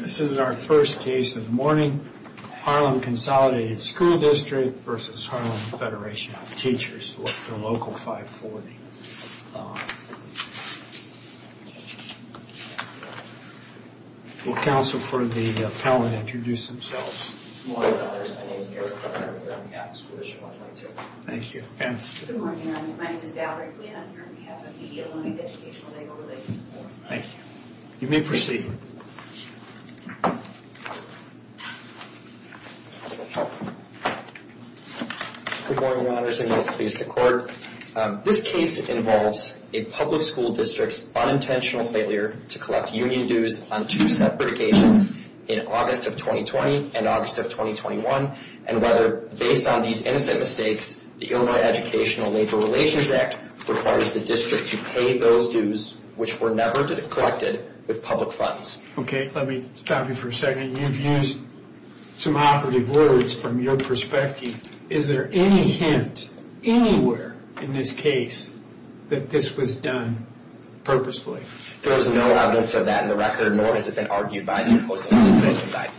This is our first case of the morning. Harlem Consolidated School District versus Harlem Federation of Teachers Local 540. Will counsel for the appellant introduce themselves. My name is Eric Carter and I'm here on behalf of the School District 122. Thank you. Good morning. My name is Valerie Quinn and I'm here on behalf of the Illinois Educational Labor Relations Board. Thank you. You may proceed. Good morning, Your Honors, and may it please the Court. This case involves a public school district's unintentional failure to collect union dues on two separate occasions in August of 2020 and August of 2021, and whether, based on these innocent mistakes, the Illinois Educational Labor Relations Act requires the district to pay those dues, which were never collected with public funds. Okay, let me stop you for a second. You've used some operative words from your perspective. Is there any hint, anywhere in this case, that this was done purposefully? There is no evidence of that in the record, nor has it been argued by the opposing side.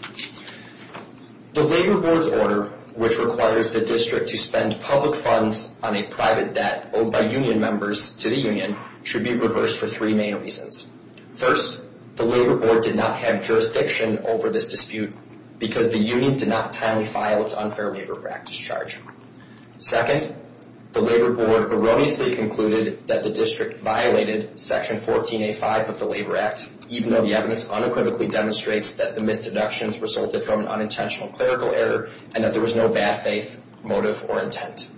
The labor board's order, which requires the district to spend public funds on a private debt owed by union members to the union, should be reversed for three main reasons. First, the labor board did not have jurisdiction over this dispute because the union did not timely file its unfair labor practice charge. Second, the labor board erroneously concluded that the district violated Section 14A5 of the Labor Act, even though the evidence unequivocally demonstrates that the misdeductions resulted from an unintentional clerical error and that there was no bad faith motive or intent.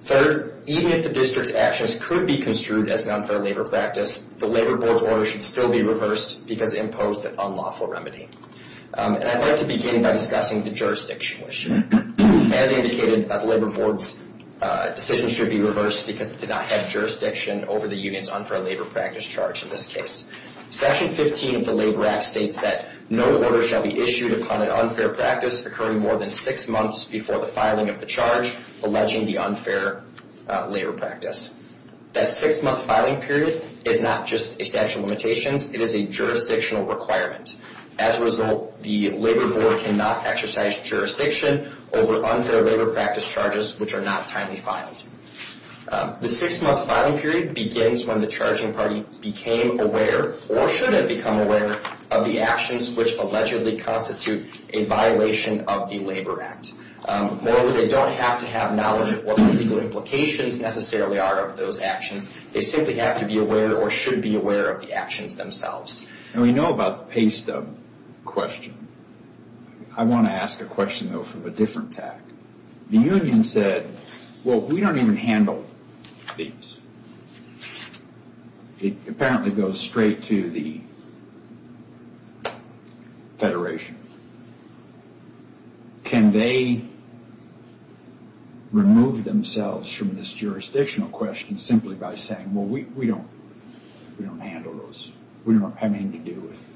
Third, even if the district's actions could be construed as an unfair labor practice, the labor board's order should still be reversed because it imposed an unlawful remedy. And I'd like to begin by discussing the jurisdiction issue. As indicated, the labor board's decision should be reversed because it did not have jurisdiction over the union's unfair labor practice charge in this case. Section 15 of the Labor Act states that no order shall be issued upon an unfair practice occurring more than six months before the filing of the charge alleging the unfair labor practice. That six-month filing period is not just a statute of limitations, it is a jurisdictional requirement. As a result, the labor board cannot exercise jurisdiction over unfair labor practice charges which are not timely filed. The six-month filing period begins when the charging party became aware, or should have become aware, of the actions which allegedly constitute a violation of the Labor Act. More generally, they don't have to have knowledge of what the legal implications necessarily are of those actions. They simply have to be aware, or should be aware, of the actions themselves. And we know about the pay stub question. I want to ask a question, though, from a different tack. The union said, well, we don't even handle these. It apparently goes straight to the federation. Can they remove themselves from this jurisdictional question simply by saying, well, we don't handle those. We don't have anything to do with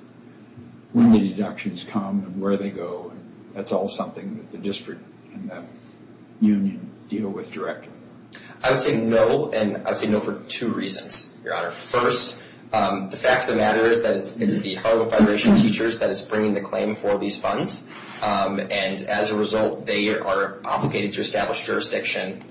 when the deductions come and where they go. That's all something that the district and the union deal with directly. I would say no, and I would say no for two reasons, Your Honor. First, the fact of the matter is that it's the Harvard Federation of Teachers that is bringing the claim for these funds. And as a result, they are obligated to establish jurisdiction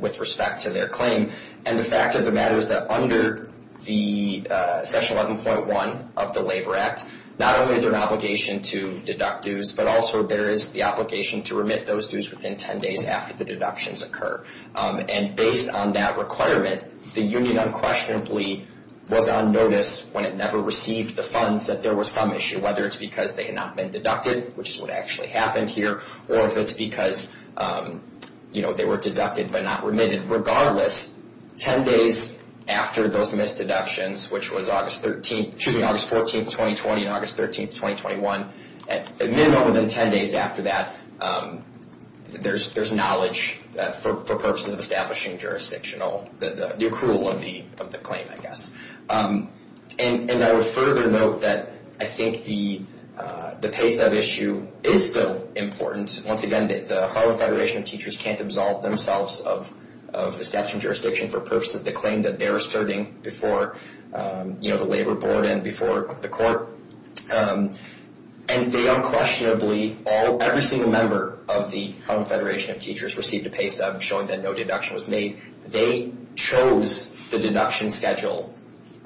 with respect to their claim. And the fact of the matter is that under the section 11.1 of the Labor Act, not only is there an obligation to deduct dues, but also there is the obligation to remit those dues within 10 days after the deductions occur. And based on that requirement, the union unquestionably was on notice when it never received the funds that there was some issue, whether it's because they had not been deducted, which is what actually happened here, or if it's because they were deducted but not remitted. Regardless, 10 days after those missed deductions, which was August 14, 2020, and August 13, 2021, at minimum within 10 days after that, there's knowledge for purposes of establishing jurisdictional, the accrual of the claim, I guess. And I would further note that I think the pace of issue is still important. Once again, the Harvard Federation of Teachers can't absolve themselves of establishing jurisdiction for purposes of the claim that they're asserting before the labor board and before the court. And they unquestionably, every single member of the Harvard Federation of Teachers received a pay stub showing that no deduction was made. They chose the deduction schedule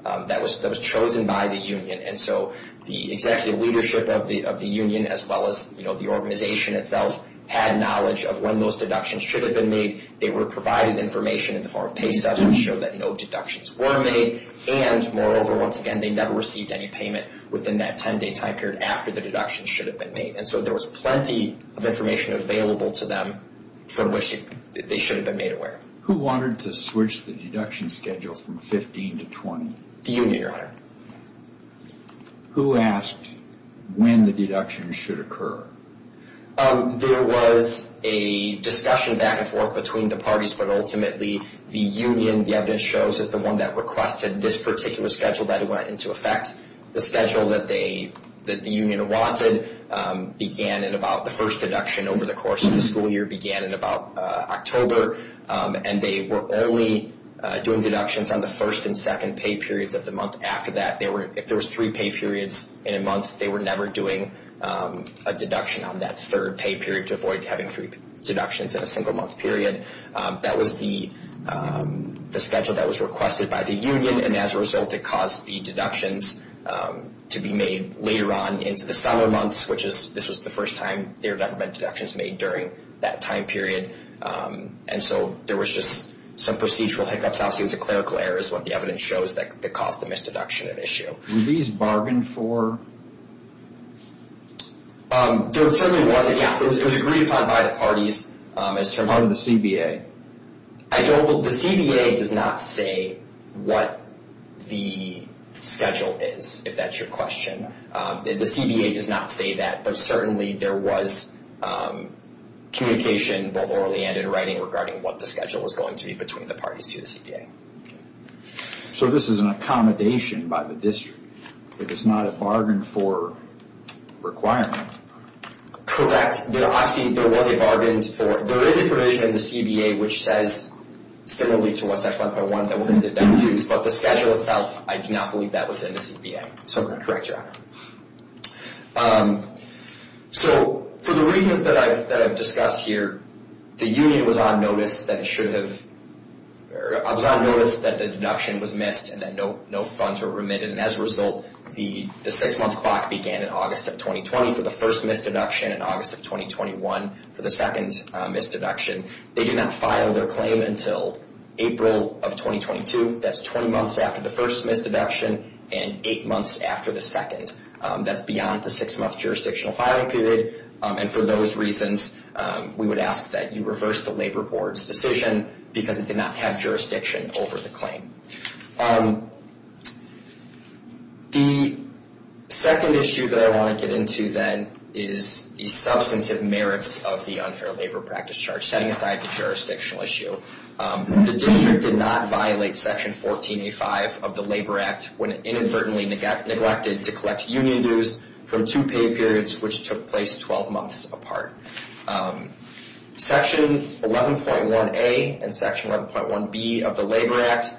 that was chosen by the union. And so the executive leadership of the union, as well as the organization itself, had knowledge of when those deductions should have been made. They were provided information in the union that no deductions were made. And moreover, once again, they never received any payment within that 10-day time period after the deduction should have been made. And so there was plenty of information available to them for which they should have been made aware. Who wanted to switch the deduction schedule from 15 to 20? The union, Your Honor. Who asked when the deduction should occur? There was a discussion back and forth between the parties, but ultimately the union, the evidence shows, is the one that requested this particular schedule that went into effect. The schedule that the union wanted began in about the first deduction over the course of the school year began in about October. And they were only doing deductions on the first and second pay periods of the month after that. If there was three pay periods in a month, they were never doing a deduction on that third pay period to avoid having three deductions in a single month period. That was the schedule that was requested by the union. And as a result, it caused the deductions to be made later on into the summer months, which is, this was the first time there had ever been deductions made during that time period. And so there was just some procedural hiccups. Obviously, it was a clerical error is what the evidence shows that caused the misdeduction at issue. Were these bargained for? It was agreed upon by the parties as part of the CBA. The CBA does not say what the schedule is, if that's your question. The CBA does not say that, but certainly there was communication both orally and in writing regarding what the schedule was going to be between the parties to the CBA. So this is an accommodation by the district. It is not a bargain for requirement. Correct. Obviously, there was a bargain for it. There is a provision in the CBA which says similarly to what section 1.1 that we're going to deduce, but the schedule itself, I do not believe that was in the CBA. So I'm going to correct you on that. So for the reasons that I've discussed here, the union was on notice that it should have I was on notice that the deduction was missed and that no funds were remitted. And as a result, the six-month clock began in August of 2020 for the first misdeduction and August of 2021 for the second misdeduction. They do not file their claim until April of 2022. That's 20 months after the first misdeduction and eight months after the second. That's beyond the six-month jurisdictional filing period. And for those reasons, we would ask that you reverse the Labor Board's decision because it did not have jurisdiction over the claim. The second issue that I want to get into then is the substantive merits of the unfair labor practice charge, setting aside the jurisdictional issue. The district did not violate section 1485 of the Labor Act when it inadvertently neglected to collect union dues from two pay periods which took place 12 months apart. Section 11.1A and section 11.1B of the Labor Act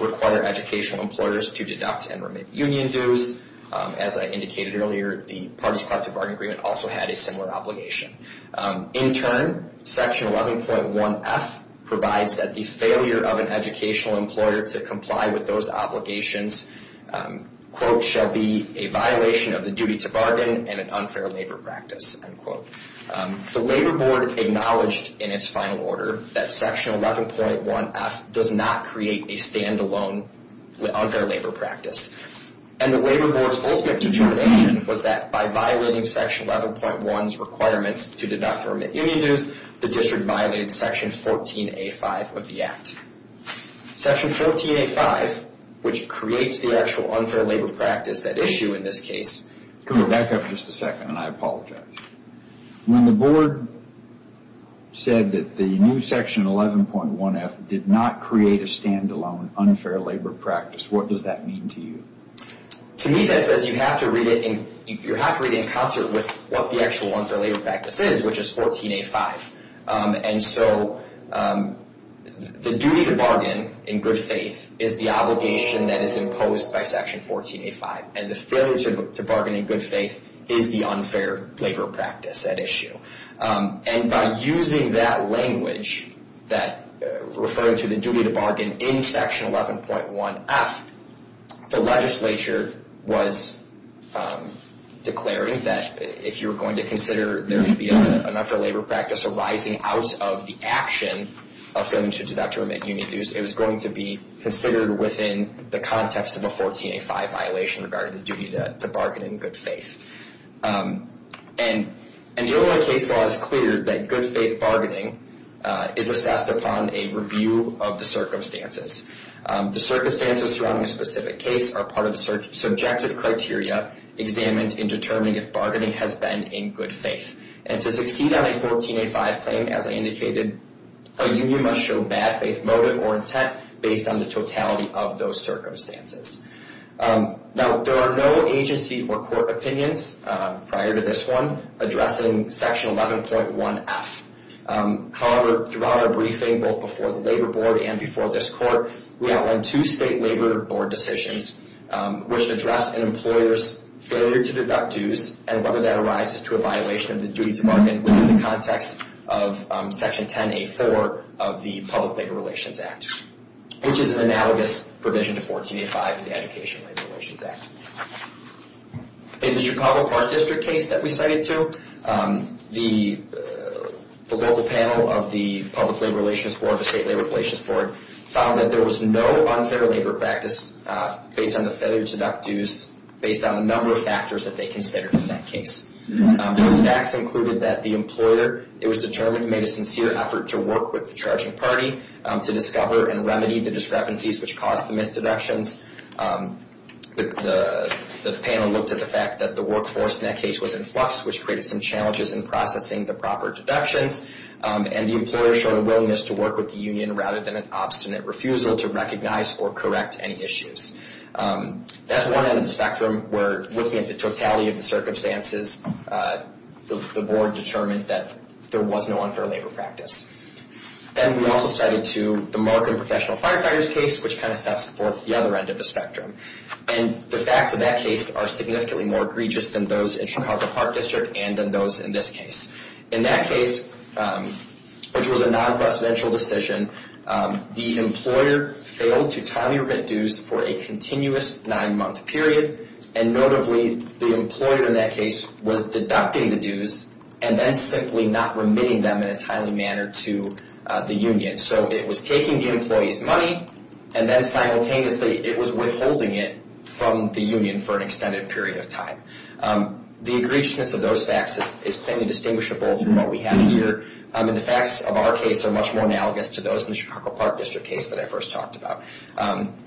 require educational employers to deduct and remit union dues. As I indicated earlier, the Parties Collective Bargain Agreement also had a similar obligation. In turn, section 11.1F provides that the failure of an educational employer to comply with those obligations, quote, shall be a violation of the duty to bargain and an unfair labor practice, end quote. The Labor Board acknowledged in its final order that section 11.1F does not create a stand-alone unfair labor practice. And the Labor Board's ultimate determination was that by violating section 11.1's requirements to deduct or remit union dues, the district violated section 14A5 of the Act. Section 14A5, which creates the actual unfair labor practice at issue in this case. Come back up just a second and I apologize. When the Board said that the new section 11.1F did not create a stand-alone unfair labor practice, what does that mean to you? To me, that says you have to read it in concert with what the actual unfair labor practice is, which is 14A5. And so the duty to bargain in good faith is the obligation that is imposed by section 14A5. And the failure to bargain in good faith is the unfair labor practice at issue. And by using that language, referring to the duty to bargain in section 11.1F, the legislature was declaring that if you were going to consider there to be an unfair labor practice arising out of the action of failing to deduct or remit union dues, it was going to be considered within the context of a 14A5 violation regarding the duty to bargain in good faith. And the Illinois case law is clear that good faith bargaining is assessed upon a review of the circumstances. The circumstances surrounding a specific case are part of the subjective criteria examined in determining if bargaining has been in good faith. And to succeed on a 14A5 claim, as I indicated, a union must show bad faith motive or intent based on the totality of those circumstances. Now, there are no agency or court opinions prior to this one addressing section 11.1F. However, throughout our briefing, both before the labor board and before this court, we outlined two state labor board decisions which address an employer's failure to deduct dues and whether that arises to a violation of the duty to bargain within the context of section 10A4 of the Public Labor Relations Act, which is an analogous provision to 14A5 in the Education Labor Relations Act. In the Chicago Park District case that we cited too, the local panel of the Public Labor Relations Board, the State Labor Relations Board, found that there was no unfair labor practice based on the failure to deduct dues based on a number of factors that they considered in that case. The facts included that the employer, it was determined, made a sincere effort to work with the charging party to discover and remedy the discrepancies which caused the misdeductions. The panel looked at the fact that the workforce in that case was in flux, which created some challenges in processing the proper deductions. And the employer showed a willingness to work with the union rather than an obstinate refusal to recognize or correct any issues. That's one end of the spectrum where looking at the totality of the circumstances, the board determined that there was no unfair labor practice. And we also cited too the Markham Professional Firefighters case, which kind of sets forth the other end of the spectrum. And the facts of that case are significantly more egregious than those in Chicago Park District and than those in this case. In that case, which was a non-presidential decision, the employer failed to timely remit dues for a continuous nine-month period. And notably, the employer in that case was deducting the dues and then simply not remitting them in a timely manner to the union. So it was taking the employee's money and then simultaneously it was withholding it from the union for an extended period of time. The egregiousness of those facts is plainly distinguishable from what we have here. And the facts of our case are much more analogous to those in the Chicago Park District case that I first talked about.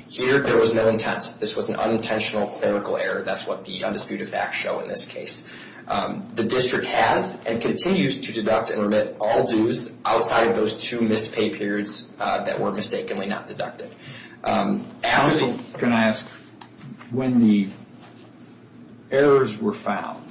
Here, there was no intent. This was an unintentional clerical error. That's what the undisputed facts show in this case. The district has and continues to deduct and remit all dues outside of those two missed pay periods that were mistakenly not deducted. Can I ask, when the errors were found,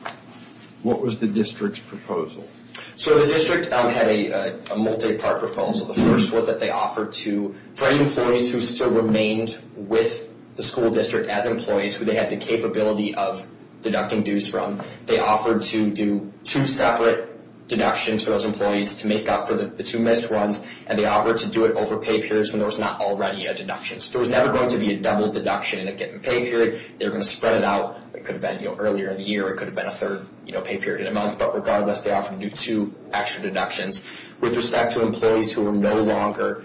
what was the district's proposal? So the district had a multi-part proposal. The first was that they offered to bring employees who still remained with the school district as employees who they had the capability of deducting dues from. They offered to do two separate deductions for those employees to make up for the two missed ones. And they offered to do it over pay periods when there was not already a deduction. So there was never going to be a double deduction in a given pay period. They were going to spread it out. It could have been earlier in the year. It could have been a third pay period in a month. But regardless, they offered to do two extra deductions with respect to employees who were no longer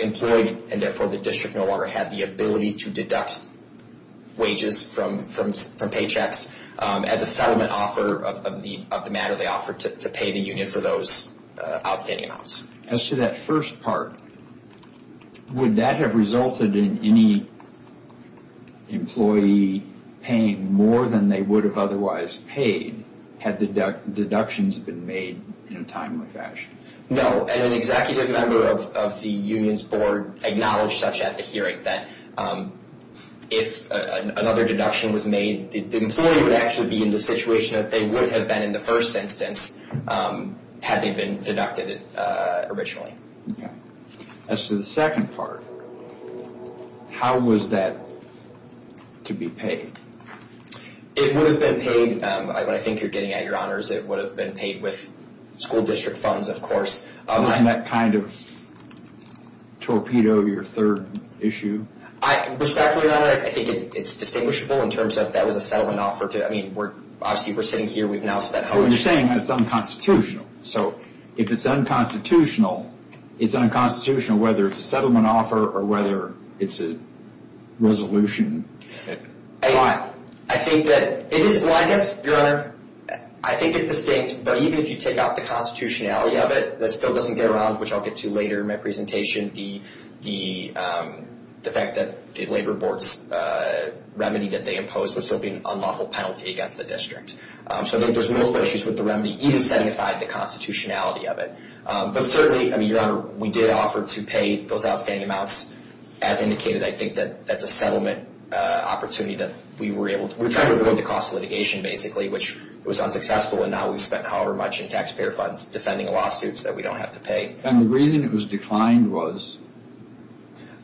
employed, and therefore the district no longer had the ability to deduct wages from paychecks. As a settlement offer of the matter, they offered to pay the union for those outstanding amounts. As to that first part, would that have resulted in any employee paying more than they would have otherwise paid had the deductions been made in a timely fashion? An executive member of the union's board acknowledged such at the hearing that if another deduction was made, the employee would actually be in the situation that they would have been in the first instance had they been deducted originally. As to the second part, how was that to be paid? It would have been paid, but I think you're getting at your honors. It would have been paid with school district funds, of course. Wasn't that kind of torpedo your third issue? Respectfully, your honor, I think it's distinguishable in terms of that was a settlement offer. I mean, obviously we're sitting here. We've now spent how much? Well, you're saying that it's unconstitutional. So if it's unconstitutional, it's unconstitutional whether it's a settlement offer or whether it's a resolution. I think that it is blindness, your honor. I think it's distinct, but even if you take out the constitutionality of it, that still doesn't get around, which I'll get to later in my presentation, the fact that the labor board's remedy that they imposed would still be an unlawful penalty against the district. So I think there's multiple issues with the remedy, even setting aside the constitutionality of it. But certainly, I mean, your honor, we did offer to pay those outstanding amounts. As indicated, I think that that's a settlement opportunity that we were able to. We're trying to avoid the cost of litigation, basically, which was unsuccessful. And now we've spent however much in taxpayer funds defending lawsuits that we don't have to pay. And the reason it was declined was?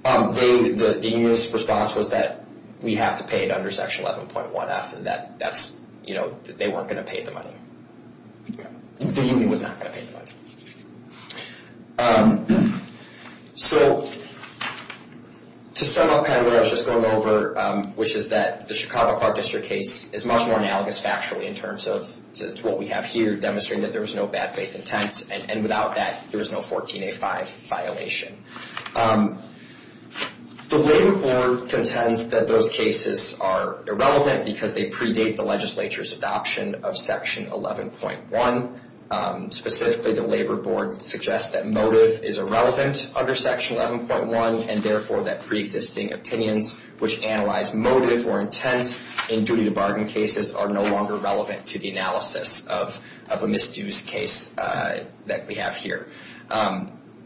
The union's response was that we have to pay it under Section 11.1F. And that's, you know, they weren't going to pay the money. The union was not going to pay the money. So to sum up kind of what I was just going over, which is that the Chicago Park District case is much more analogous factually in terms of what we have here, demonstrating that there was no bad faith intent, and without that, there was no 14A5 violation. The labor board contends that those cases are irrelevant because they predate the legislature's adoption of Section 11.1, specifically the labor board suggests that motive is irrelevant under Section 11.1, and therefore that preexisting opinions which analyze motive or intent in duty to bargain cases are no longer relevant to the analysis of a misdue's case that we have here.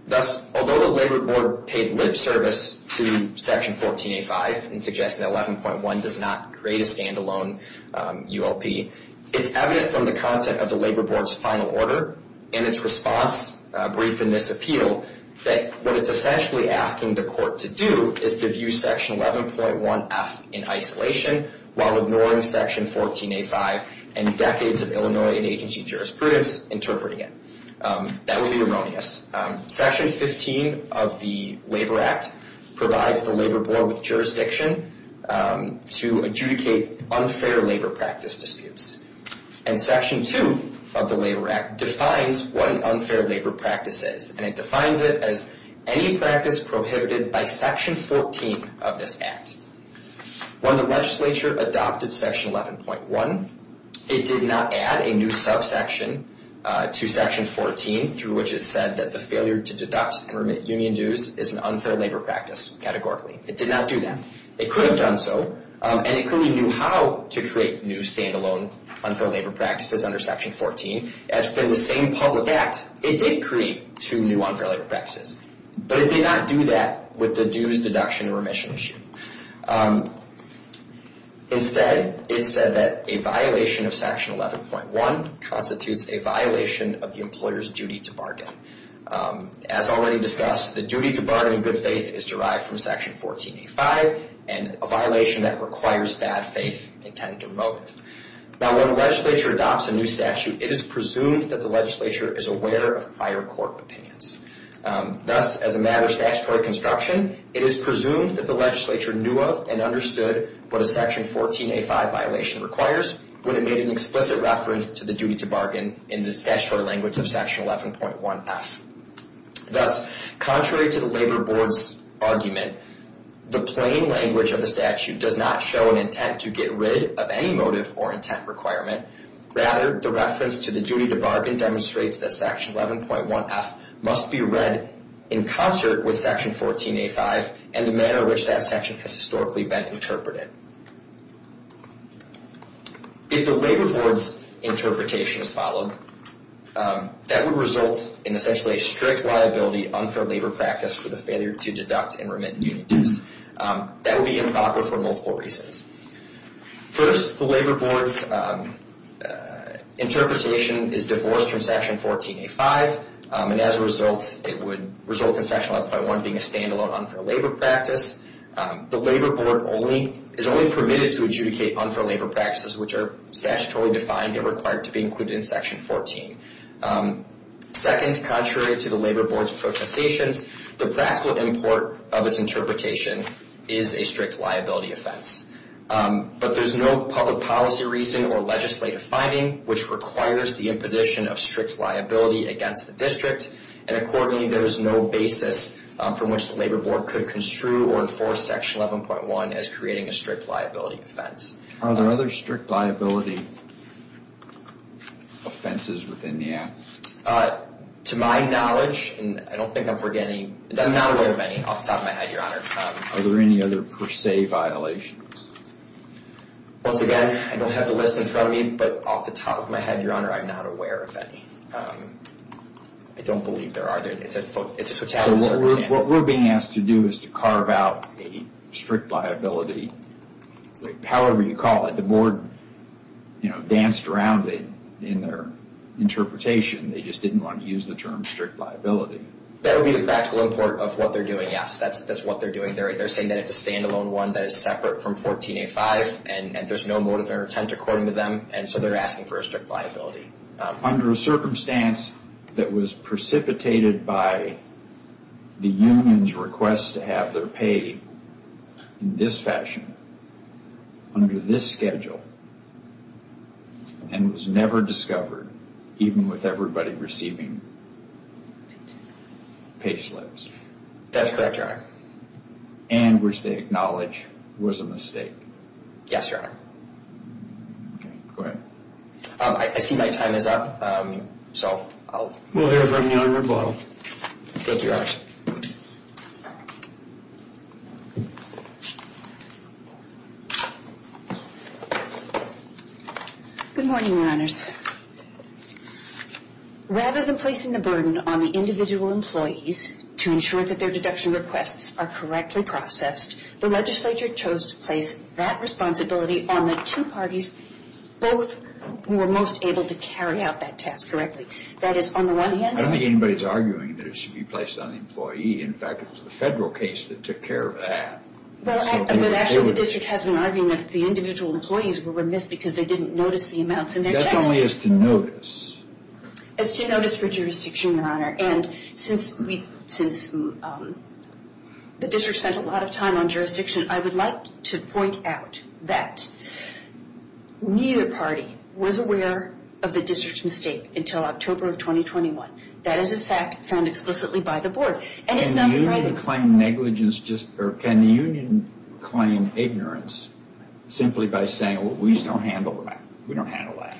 Thus, although the labor board paid lib service to Section 14A5 in suggesting that 11.1 does not create a standalone ULP, it's evident from the content of the labor board's final order and its response brief in this appeal that what it's essentially asking the court to do is to view Section 11.1F in isolation while ignoring Section 14A5 and decades of Illinois and agency jurisprudence interpreting it. That would be erroneous. Section 15 of the Labor Act provides the labor board with jurisdiction to adjudicate unfair labor practice disputes, and Section 2 of the Labor Act defines what an unfair labor practice is, and it defines it as any practice prohibited by Section 14 of this Act. When the legislature adopted Section 11.1, it did not add a new subsection to Section 14 through which it said that the failure to deduct and remit union dues is an unfair labor practice categorically. It did not do that. It could have done so, and it clearly knew how to create new standalone unfair labor practices under Section 14. As for the same public act, it did create two new unfair labor practices, but it did not do that with the dues deduction and remission issue. Instead, it said that a violation of Section 11.1 constitutes a violation of the employer's duty to bargain. As already discussed, the duty to bargain in good faith is derived from Section 14A5 and a violation that requires bad faith intended or motive. Now, when a legislature adopts a new statute, it is presumed that the legislature is aware of prior court opinions. Thus, as a matter of statutory construction, it is presumed that the legislature knew of and understood what a Section 14A5 violation requires when it made an explicit reference to the duty to bargain in the statutory language of Section 11.1F. Thus, contrary to the labor board's argument, the plain language of the statute does not show an intent to get rid of any motive or intent requirement. Rather, the reference to the duty to bargain demonstrates that Section 11.1F must be read in concert with Section 14A5 and the manner in which that section has historically been interpreted. If the labor board's interpretation is followed, that would result in essentially a strict liability unfair labor practice for the failure to deduct and remit new dues. That would be improper for multiple reasons. First, the labor board's interpretation is divorced from Section 14A5 and as a result, it would result in Section 11.1 being a stand-alone unfair labor practice. The labor board is only permitted to adjudicate unfair labor practices which are statutorily defined and required to be included in Section 14. Second, contrary to the labor board's propositions, the practical import of its interpretation is a strict liability offense. But there's no public policy reason or legislative finding which requires the imposition of strict liability against the district and accordingly, there is no basis from which the labor board could construe or enforce Section 11.1 as creating a strict liability offense. Are there other strict liability offenses within the act? To my knowledge, and I don't think I'm forgetting, I'm not aware of any off the top of my head, Your Honor. Are there any other per se violations? Once again, I don't have the list in front of me, but off the top of my head, Your Honor, I'm not aware of any. I don't believe there are. It's a totality of circumstances. What we're being asked to do is to carve out a strict liability, however you call it. The board, you know, danced around it in their interpretation. They just didn't want to use the term strict liability. That would be the practical import of what they're doing, yes. That's what they're doing. They're saying that it's a standalone one that is separate from 14A5 and there's no motive or intent according to them, and so they're asking for a strict liability. Under a circumstance that was precipitated by the union's request to have their pay in this fashion, under this schedule, and was never discovered even with everybody receiving pay slips. That's correct, Your Honor. And which they acknowledge was a mistake. Yes, Your Honor. Okay, go ahead. I see my time is up, so I'll move on. We'll hear from you on your rebuttal. Go ahead, Your Honor. Good morning, Your Honors. Rather than placing the burden on the individual employees to ensure that their deduction requests are correctly processed, the legislature chose to place that responsibility on the two parties, both who were most able to carry out that task correctly. That is, on the one hand. I don't think anybody's arguing that it should be placed on the employee. In fact, it was the federal case that took care of that. Well, actually, the district has been arguing that the individual employees were remiss because they didn't notice the amounts in their checks. That's only as to notice. As to notice for jurisdiction, Your Honor. And since the district spent a lot of time on jurisdiction, I would like to point out that neither party was aware of the district's mistake until October of 2021. That is a fact found explicitly by the board. Can the union claim negligence just or can the union claim ignorance simply by saying, you know, we just don't handle that. We don't handle that.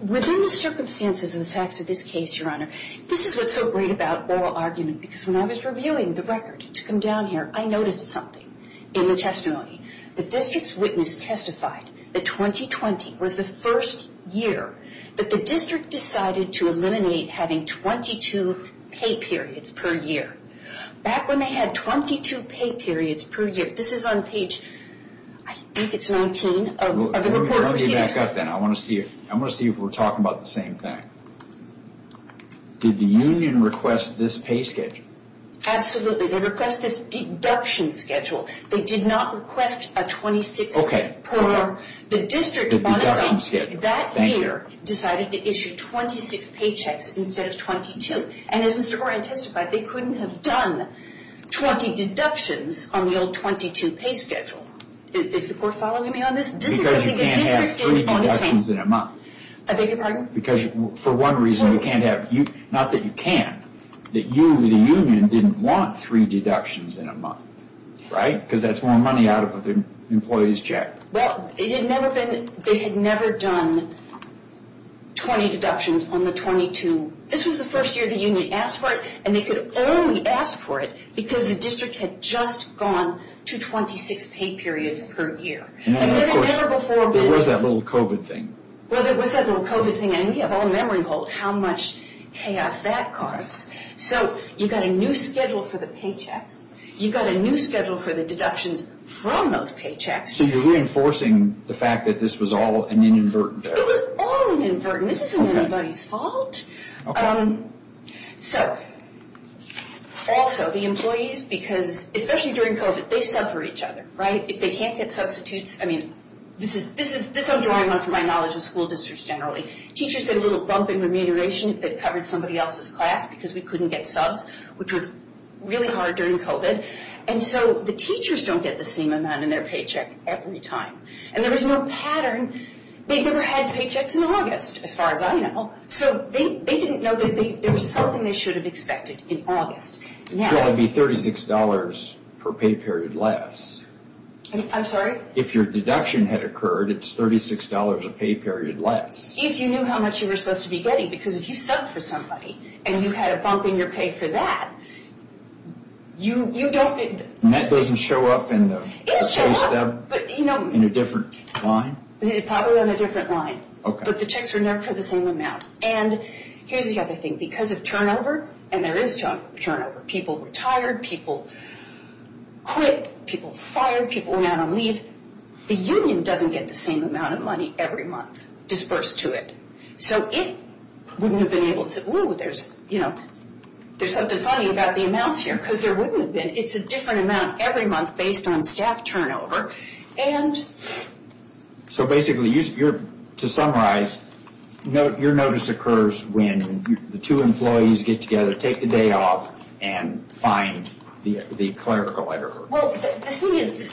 Within the circumstances and the facts of this case, Your Honor, this is what's so great about oral argument because when I was reviewing the record to come down here, I noticed something in the testimony. The district's witness testified that 2020 was the first year that the district decided to eliminate having 22 pay periods per year. Back when they had 22 pay periods per year, this is on page I think it's 19 of the report procedure. Let me back up then. I want to see if we're talking about the same thing. Did the union request this pay schedule? Absolutely. They request this deduction schedule. They did not request a 26 per the district. The deduction schedule. That year decided to issue 26 paychecks instead of 22. And as Mr. Horan testified, they couldn't have done 20 deductions on the old 22 pay schedule. Is the court following me on this? Because you can't have three deductions in a month. I beg your pardon? Because for one reason, you can't have, not that you can't, that you, the union, didn't want three deductions in a month, right? Because that's more money out of the employee's check. Well, it had never been, they had never done 20 deductions on the 22. This was the first year the union asked for it, and they could only ask for it because the district had just gone to 26 pay periods per year. And it had never before been. There was that little COVID thing. Well, there was that little COVID thing, and we have all memory of how much chaos that caused. So you've got a new schedule for the paychecks. You've got a new schedule for the deductions from those paychecks. So you're reinforcing the fact that this was all an inadvertent error. It was all an inadvertent error. And this isn't anybody's fault. So, also, the employees, because, especially during COVID, they sub for each other, right? If they can't get substitutes, I mean, this I'm drawing on from my knowledge of school districts generally. Teachers get a little bump in remuneration if they've covered somebody else's class because we couldn't get subs, which was really hard during COVID. And so the teachers don't get the same amount in their paycheck every time. And there was no pattern. They never had paychecks in August, as far as I know. So they didn't know that there was something they should have expected in August. It would be $36 per pay period less. I'm sorry? If your deduction had occurred, it's $36 a pay period less. If you knew how much you were supposed to be getting, because if you sub for somebody and you had a bump in your pay for that, you don't get the… And that doesn't show up in the pay stub in a different line? Probably on a different line. But the checks were never for the same amount. And here's the other thing. Because of turnover, and there is turnover. People retired. People quit. People fired. People went out on leave. The union doesn't get the same amount of money every month disbursed to it. So it wouldn't have been able to say, whew, there's something funny about the amounts here because there wouldn't have been. It's a different amount every month based on staff turnover. So basically, to summarize, your notice occurs when the two employees get together, take the day off, and find the clerical error. Well, the thing is,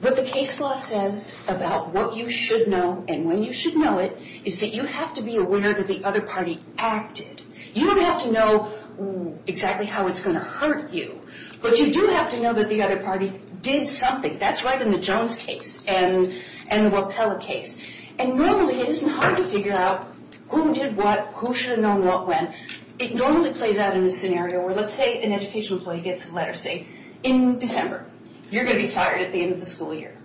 what the case law says about what you should know and when you should know it is that you have to be aware that the other party acted. You don't have to know exactly how it's going to hurt you, but you do have to know that the other party did something. That's right in the Jones case and the Wappella case. And normally it isn't hard to figure out who did what, who should have known what when. It normally plays out in a scenario where, let's say, an education employee gets a letter, say, in December. You're going to be fired at the end of the school year.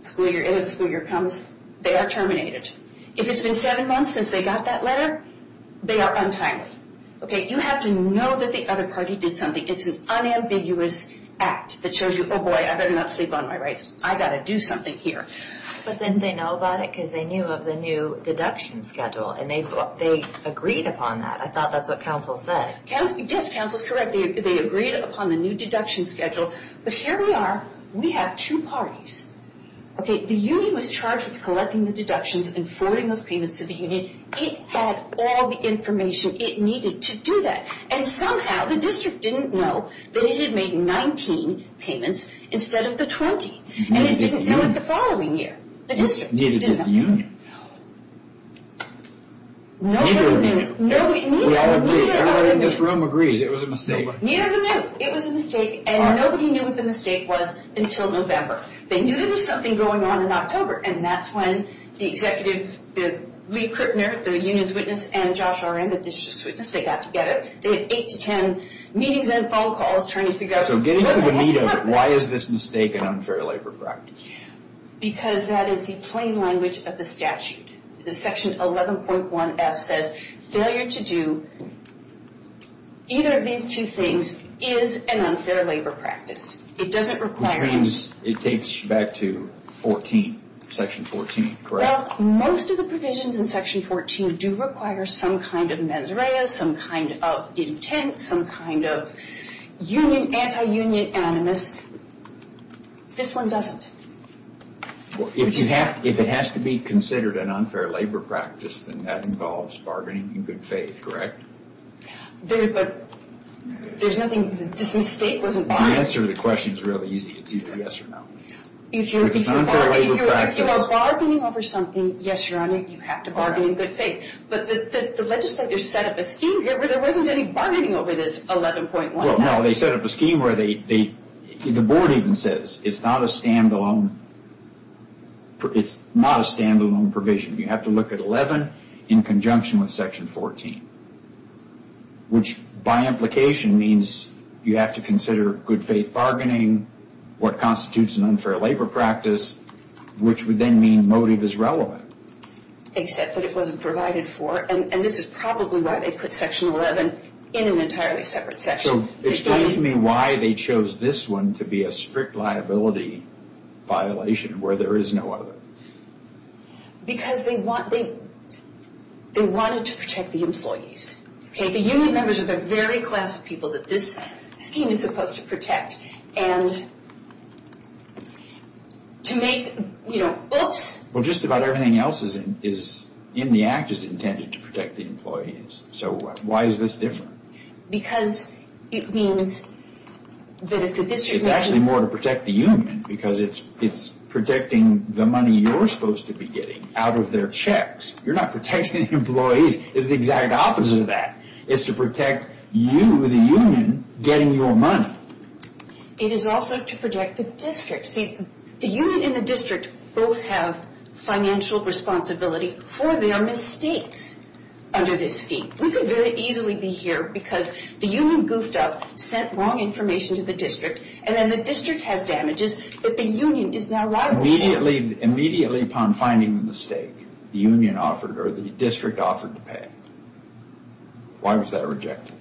School year. End of the school year comes. They are terminated. If it's been seven months since they got that letter, they are untimely. Okay, you have to know that the other party did something. It's an unambiguous act that shows you, oh, boy, I better not sleep on my rights. I've got to do something here. But then they know about it because they knew of the new deduction schedule, and they agreed upon that. I thought that's what counsel said. Yes, counsel is correct. They agreed upon the new deduction schedule. But here we are. We have two parties. Okay, the union was charged with collecting the deductions and forwarding those payments to the union. It had all the information it needed to do that. And somehow the district didn't know that it had made 19 payments instead of the 20. And it didn't know it the following year. The district didn't know. Nobody knew. We all agree. Everybody in this room agrees it was a mistake. Neither of them knew. It was a mistake, and nobody knew what the mistake was until November. They knew there was something going on in October, and that's when the executive, Lee Krippner, the union's witness, and Josh Oren, the district's witness, they got together. They had eight to ten meetings and phone calls trying to figure out what the heck happened. So get into the meat of why is this mistake an unfair labor practice. Because that is the plain language of the statute. The Section 11.1F says failure to do either of these two things is an unfair labor practice. It doesn't require. Which means it takes you back to 14, Section 14, correct? Well, most of the provisions in Section 14 do require some kind of mesrea, some kind of intent, some kind of union, anti-union, anonymous. This one doesn't. If it has to be considered an unfair labor practice, then that involves bargaining in good faith, correct? There's nothing. This mistake wasn't. The answer to the question is really easy. It's either yes or no. If you are bargaining over something, yes, Your Honor, you have to bargain in good faith. But the legislators set up a scheme here where there wasn't any bargaining over this 11.1F. Well, no. They set up a scheme where the board even says it's not a stand-alone provision. You have to look at 11 in conjunction with Section 14, which by implication means you have to consider good faith bargaining, what constitutes an unfair labor practice, which would then mean motive is relevant. Except that it wasn't provided for. And this is probably why they put Section 11 in an entirely separate section. So explain to me why they chose this one to be a strict liability violation where there is no other. Because they wanted to protect the employees. The union members are the very class of people that this scheme is supposed to protect. And to make, you know, oops. Well, just about everything else in the Act is intended to protect the employees. So why is this different? Because it means that if the district measures. It's actually more to protect the union because it's protecting the money you're supposed to be getting out of their checks. You're not protecting the employees. It's the exact opposite of that. It's to protect you, the union, getting your money. It is also to protect the district. See, the union and the district both have financial responsibility for their mistakes under this scheme. We could very easily be here because the union goofed up, sent wrong information to the district, and then the district has damages that the union is now liable for. Immediately upon finding the mistake, the union offered or the district offered to pay. Why was that rejected?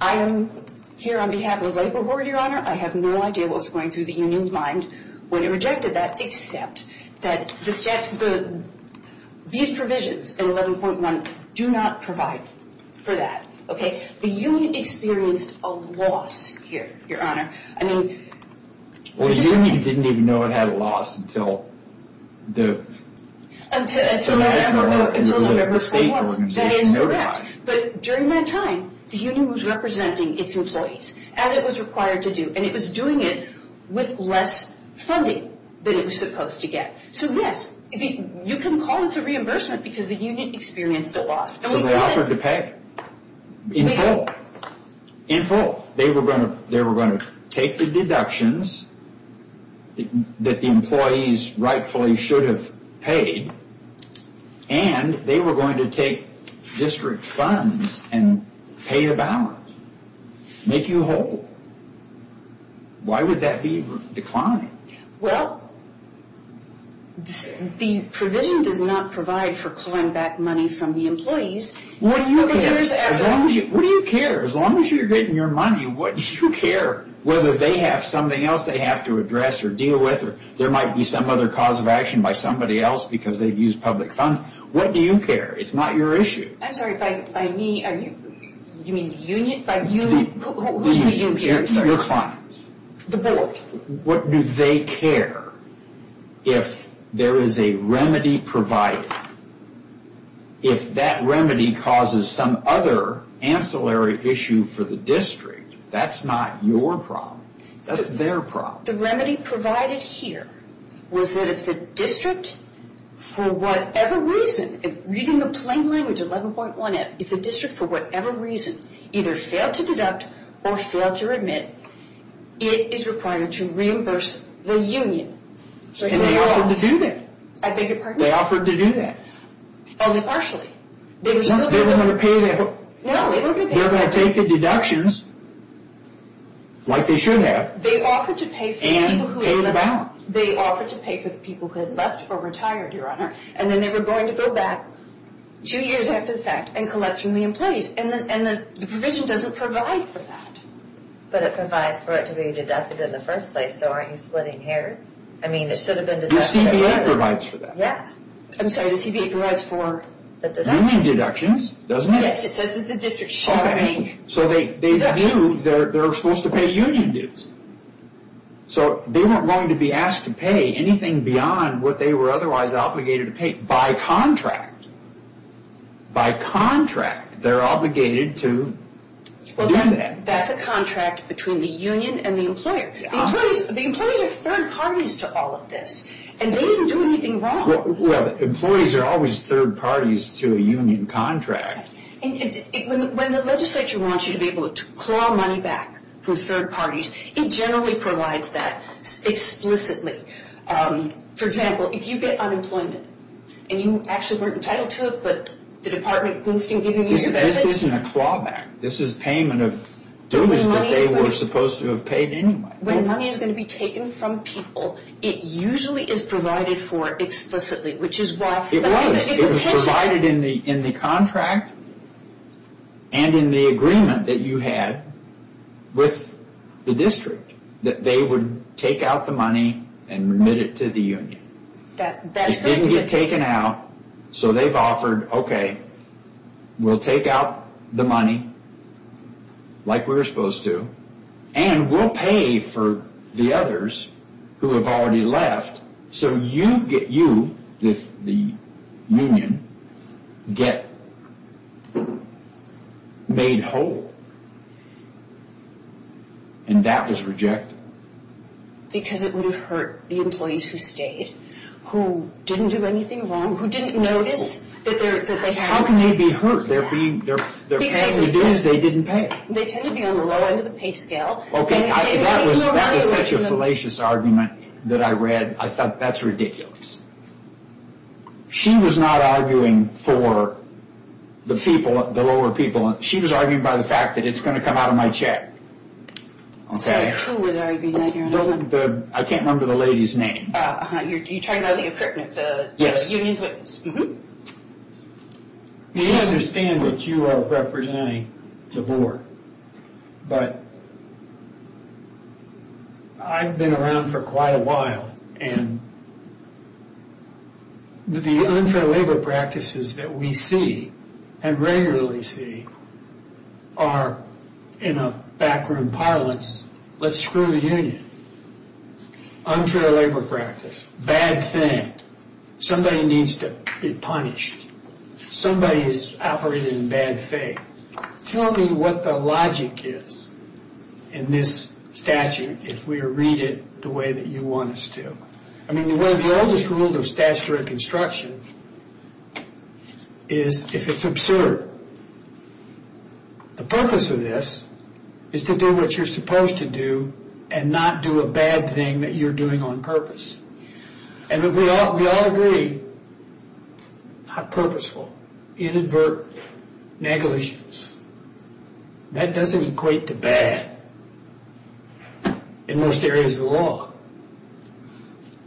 I am here on behalf of the labor board, Your Honor. I have no idea what was going through the union's mind when it rejected that, except that these provisions in 11.1 do not provide for that. The union experienced a loss here, Your Honor. Well, the union didn't even know it had a loss until the national or whatever state organization notified it. During that time, the union was representing its employees as it was required to do, and it was doing it with less funding than it was supposed to get. So, yes, you can call it a reimbursement because the union experienced a loss. So they offered to pay in full. In full. They were going to take the deductions that the employees rightfully should have paid, and they were going to take district funds and pay the balance, make you whole. Why would that be declining? Well, the provision does not provide for clawing back money from the employees. What do you care? As long as you're getting your money, what do you care? Whether they have something else they have to address or deal with, or there might be some other cause of action by somebody else because they've used public funds, what do you care? It's not your issue. I'm sorry, by me, you mean the union? Who's the union? Your clients. The board. What do they care if there is a remedy provided? If that remedy causes some other ancillary issue for the district, that's not your problem. That's their problem. The remedy provided here was that if the district, for whatever reason, reading the plain language, 11.1F, if the district, for whatever reason, either failed to deduct or failed to remit, it is required to reimburse the union. And they offered to do that. I beg your pardon? They offered to do that. Only partially. They were going to take the deductions, like they should have, and pay them back. They offered to pay for the people who had left or retired, Your Honor, and then they were going to go back two years after the fact and collection the employees. And the provision doesn't provide for that. But it provides for it to be deducted in the first place, so aren't you splitting hairs? I mean, it should have been deducted earlier. The CBA provides for that. I'm sorry, the CBA provides for the deductions. Union deductions, doesn't it? Yes, it says that the district should not make deductions. So they do. They're supposed to pay union dues. So they weren't going to be asked to pay anything beyond what they were otherwise obligated to pay by contract. By contract, they're obligated to do that. Well, that's a contract between the union and the employer. The employees are third parties to all of this, and they didn't do anything wrong. Well, employees are always third parties to a union contract. When the legislature wants you to be able to claw money back from third parties, it generally provides that explicitly. For example, if you get unemployment and you actually weren't entitled to it, but the department goofed in giving you your benefits. This isn't a clawback. This is payment of dues that they were supposed to have paid anyway. When money is going to be taken from people, it usually is provided for explicitly, which is why... It was. It was provided in the contract and in the agreement that you had with the district that they would take out the money and remit it to the union. It didn't get taken out. So they've offered, okay, we'll take out the money like we were supposed to, and we'll pay for the others who have already left, so you get... You, the union, get made whole. And that was rejected. Because it would have hurt the employees who stayed, who didn't do anything wrong, who didn't notice that they had... How can they be hurt? Their payment of dues they didn't pay. They tend to be on the low end of the pay scale. Okay, that is such a fallacious argument that I read. I thought, that's ridiculous. She was not arguing for the people, the lower people. She was arguing by the fact that it's going to come out of my check. Sorry, who was arguing? I can't remember. I can't remember the lady's name. You're talking about the union's witness. We understand that you are representing the board, but I've been around for quite a while, and the unfair labor practices that we see and regularly see are in a backroom parlance, let's screw the union. Unfair labor practice, bad thing. Somebody needs to be punished. Somebody is operating in bad faith. Tell me what the logic is in this statute if we read it the way that you want us to. I mean, one of the oldest rules of statutory construction is if it's absurd. The purpose of this is to do what you're supposed to do and not do a bad thing that you're doing on purpose. And we all agree, how purposeful, inadvertent, negligence. That doesn't equate to bad in most areas of the law.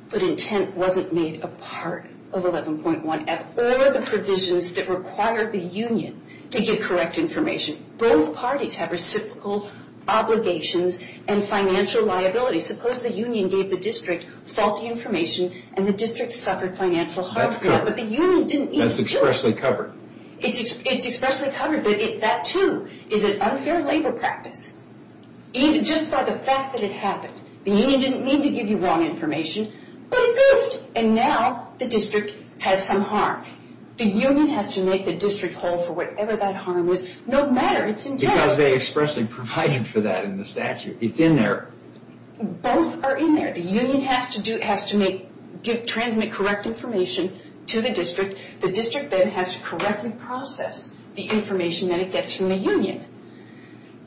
But intent wasn't made a part of 11.1. of all of the provisions that require the union to give correct information. Both parties have reciprocal obligations and financial liability. Suppose the union gave the district faulty information and the district suffered financial harm. That's covered. But the union didn't need to do it. That's expressly covered. It's expressly covered, but that, too, is an unfair labor practice. Just by the fact that it happened. The union didn't need to give you wrong information, but it goofed, and now the district has some harm. The union has to make the district hold for whatever that harm was, no matter its intent. Because they expressly provided for that in the statute. It's in there. Both are in there. The union has to transmit correct information to the district. The district then has to correctly process the information that it gets from the union.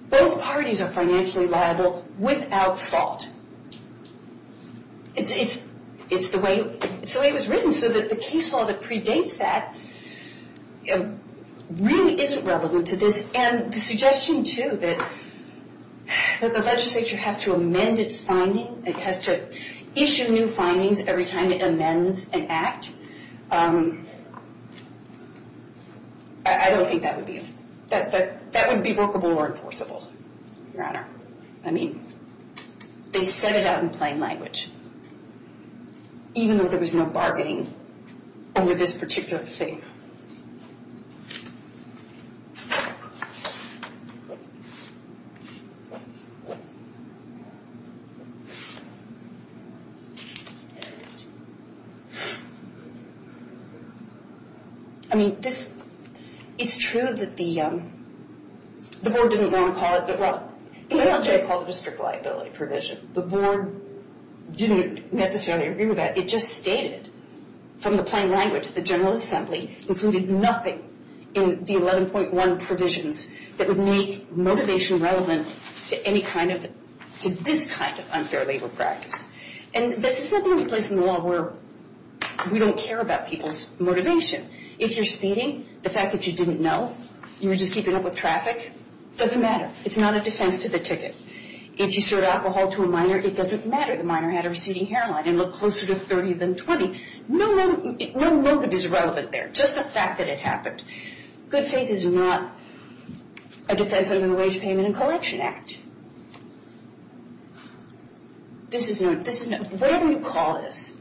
Both parties are financially liable without fault. It's the way it was written so that the case law that predates that really isn't relevant to this. And the suggestion, too, that the legislature has to amend its finding, it has to issue new findings every time it amends an act, I don't think that would be workable or enforceable, Your Honor. I mean, they said it out in plain language, even though there was no bargaining over this particular thing. I mean, it's true that the board didn't want to call it, but, well, the NLJ called it a strict liability provision. The board didn't necessarily agree with that. It just stated, from the plain language, the General Assembly included nothing in the 11.1 provisions that would make motivation relevant to this kind of unfair labor practice. And this is simply a place in the law where we don't care about people's motivation. If you're speeding, the fact that you didn't know, you were just keeping up with traffic, doesn't matter. It's not a defense to the ticket. If you served alcohol to a minor, it doesn't matter. If the minor had a receding hairline and looked closer to 30 than 20, no motive is relevant there, just the fact that it happened. Good faith is not a defense of the Wage Payment and Collection Act. This is not, whatever you call this,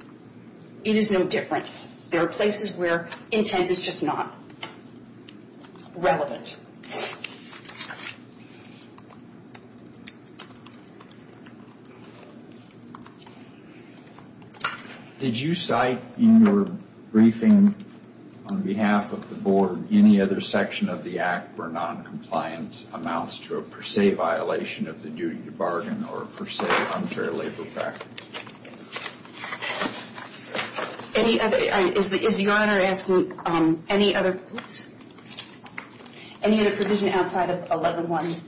it is no different. There are places where intent is just not relevant. Did you cite in your briefing on behalf of the board any other section of the Act where noncompliance amounts to a per se violation of the duty to bargain or a per se unfair labor practice? Is Your Honor asking any other provision outside of 11.1?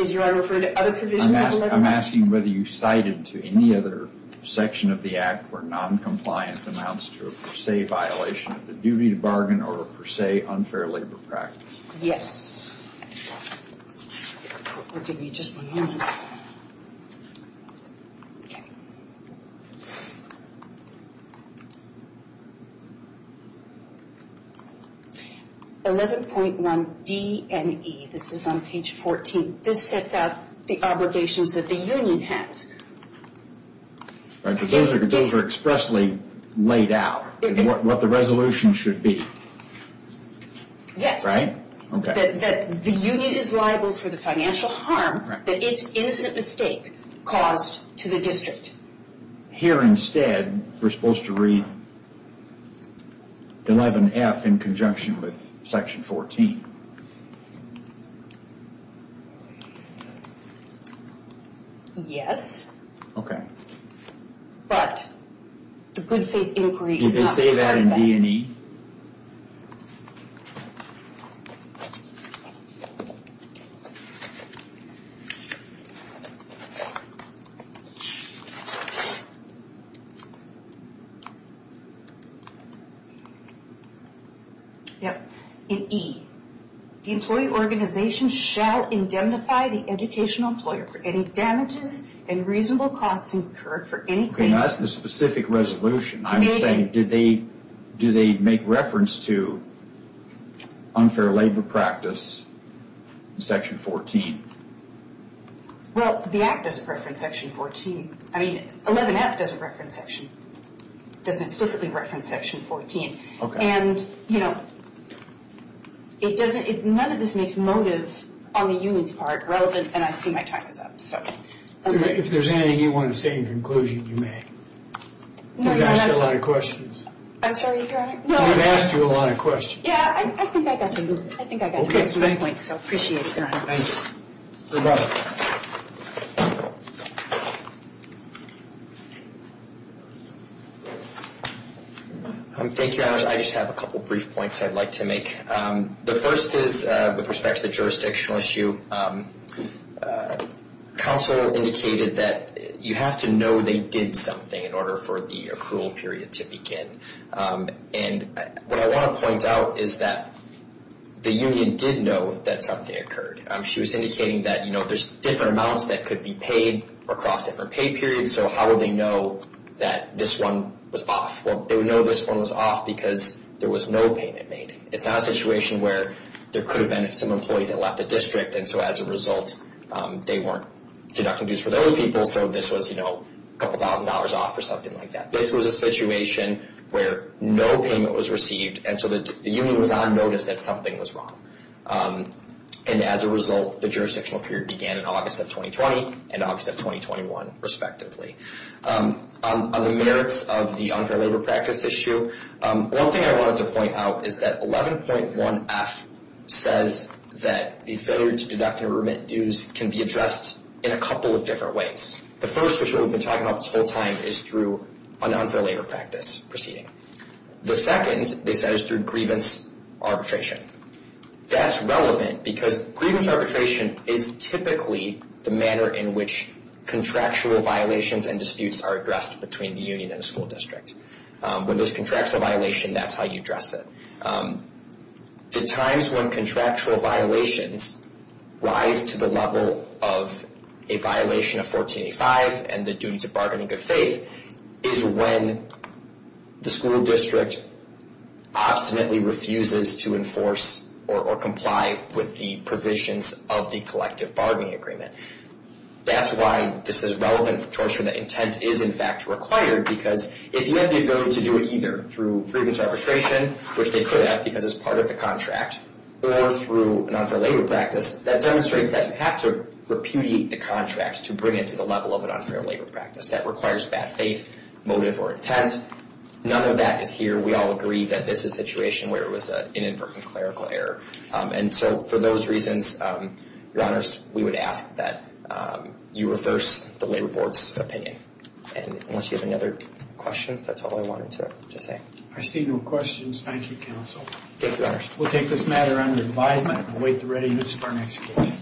Is Your Honor referring to other provisions? I'm asking whether you cited to any other section of the Act where noncompliance amounts to a per se violation of the duty to bargain or a per se unfair labor practice. Yes. 11.1 D and E, this is on page 14. This sets out the obligations that the union has. Those are expressly laid out, what the resolution should be. Yes. That the union is liable for the financial harm that its innocent mistake caused to the district. Here instead, we're supposed to read 11.F in conjunction with section 14. Yes. But the good faith inquiry is not part of that. 11.E. Yes. In E, the employee organization shall indemnify the educational employer for any damages and reasonable costs incurred for any... That's the specific resolution. I'm saying, do they make reference to unfair labor practice in section 14? Well, the Act doesn't reference section 14. I mean, 11.F doesn't reference section... doesn't explicitly reference section 14. Okay. And, you know, none of this makes motive on the union's part relevant, and I see my time is up, so... If there's anything you want to state in conclusion, you may. We've asked you a lot of questions. I'm sorry, Your Honor. We've asked you a lot of questions. Yeah, I think I got your point, so I appreciate it, Your Honor. Thank you, Your Honor. I just have a couple brief points I'd like to make. The first is, with respect to the jurisdictional issue, counsel indicated that you have to know they did something in order for the accrual period to begin. And what I want to point out is that the union did know that something occurred. She was indicating that, you know, there's different amounts that could be paid across different pay periods, so how would they know that this one was off? Well, they would know this one was off because there was no payment made. It's not a situation where there could have been some employees that left the district, and so as a result, they weren't deducting dues for those people, so this was, you know, a couple thousand dollars off or something like that. This was a situation where no payment was received, and so the union was on notice that something was wrong. And as a result, the jurisdictional period began in August of 2020 and August of 2021, respectively. On the merits of the unfair labor practice issue, one thing I wanted to point out is that 11.1F says that the failure to deduct and remit dues can be addressed in a couple of different ways. The first, which we've been talking about this whole time, is through an unfair labor practice proceeding. The second, they said, is through grievance arbitration. That's relevant because grievance arbitration is typically the manner in which contractual violations and disputes are addressed between the union and the school district. When there's contractual violation, that's how you address it. The times when contractual violations rise to the level of a violation of 1485 and the duty to bargain in good faith is when the school district obstinately refuses to enforce or comply with the provisions of the collective bargaining agreement. That's why this is relevant to ensure that intent is, in fact, required, because if you have the ability to do it either through grievance arbitration, which they could have because it's part of the contract, or through an unfair labor practice, that demonstrates that you have to repudiate the contract to bring it to the level of an unfair labor practice. That requires bad faith, motive, or intent. None of that is here. We all agree that this is a situation where it was an inadvertent clerical error. And so for those reasons, Your Honors, we would ask that you reverse the Labor Board's opinion. And unless you have any other questions, that's all I wanted to say. I see no questions. Thank you, Counsel. Thank you, Your Honors. We'll take this matter under advisement and await the readiness of our next case.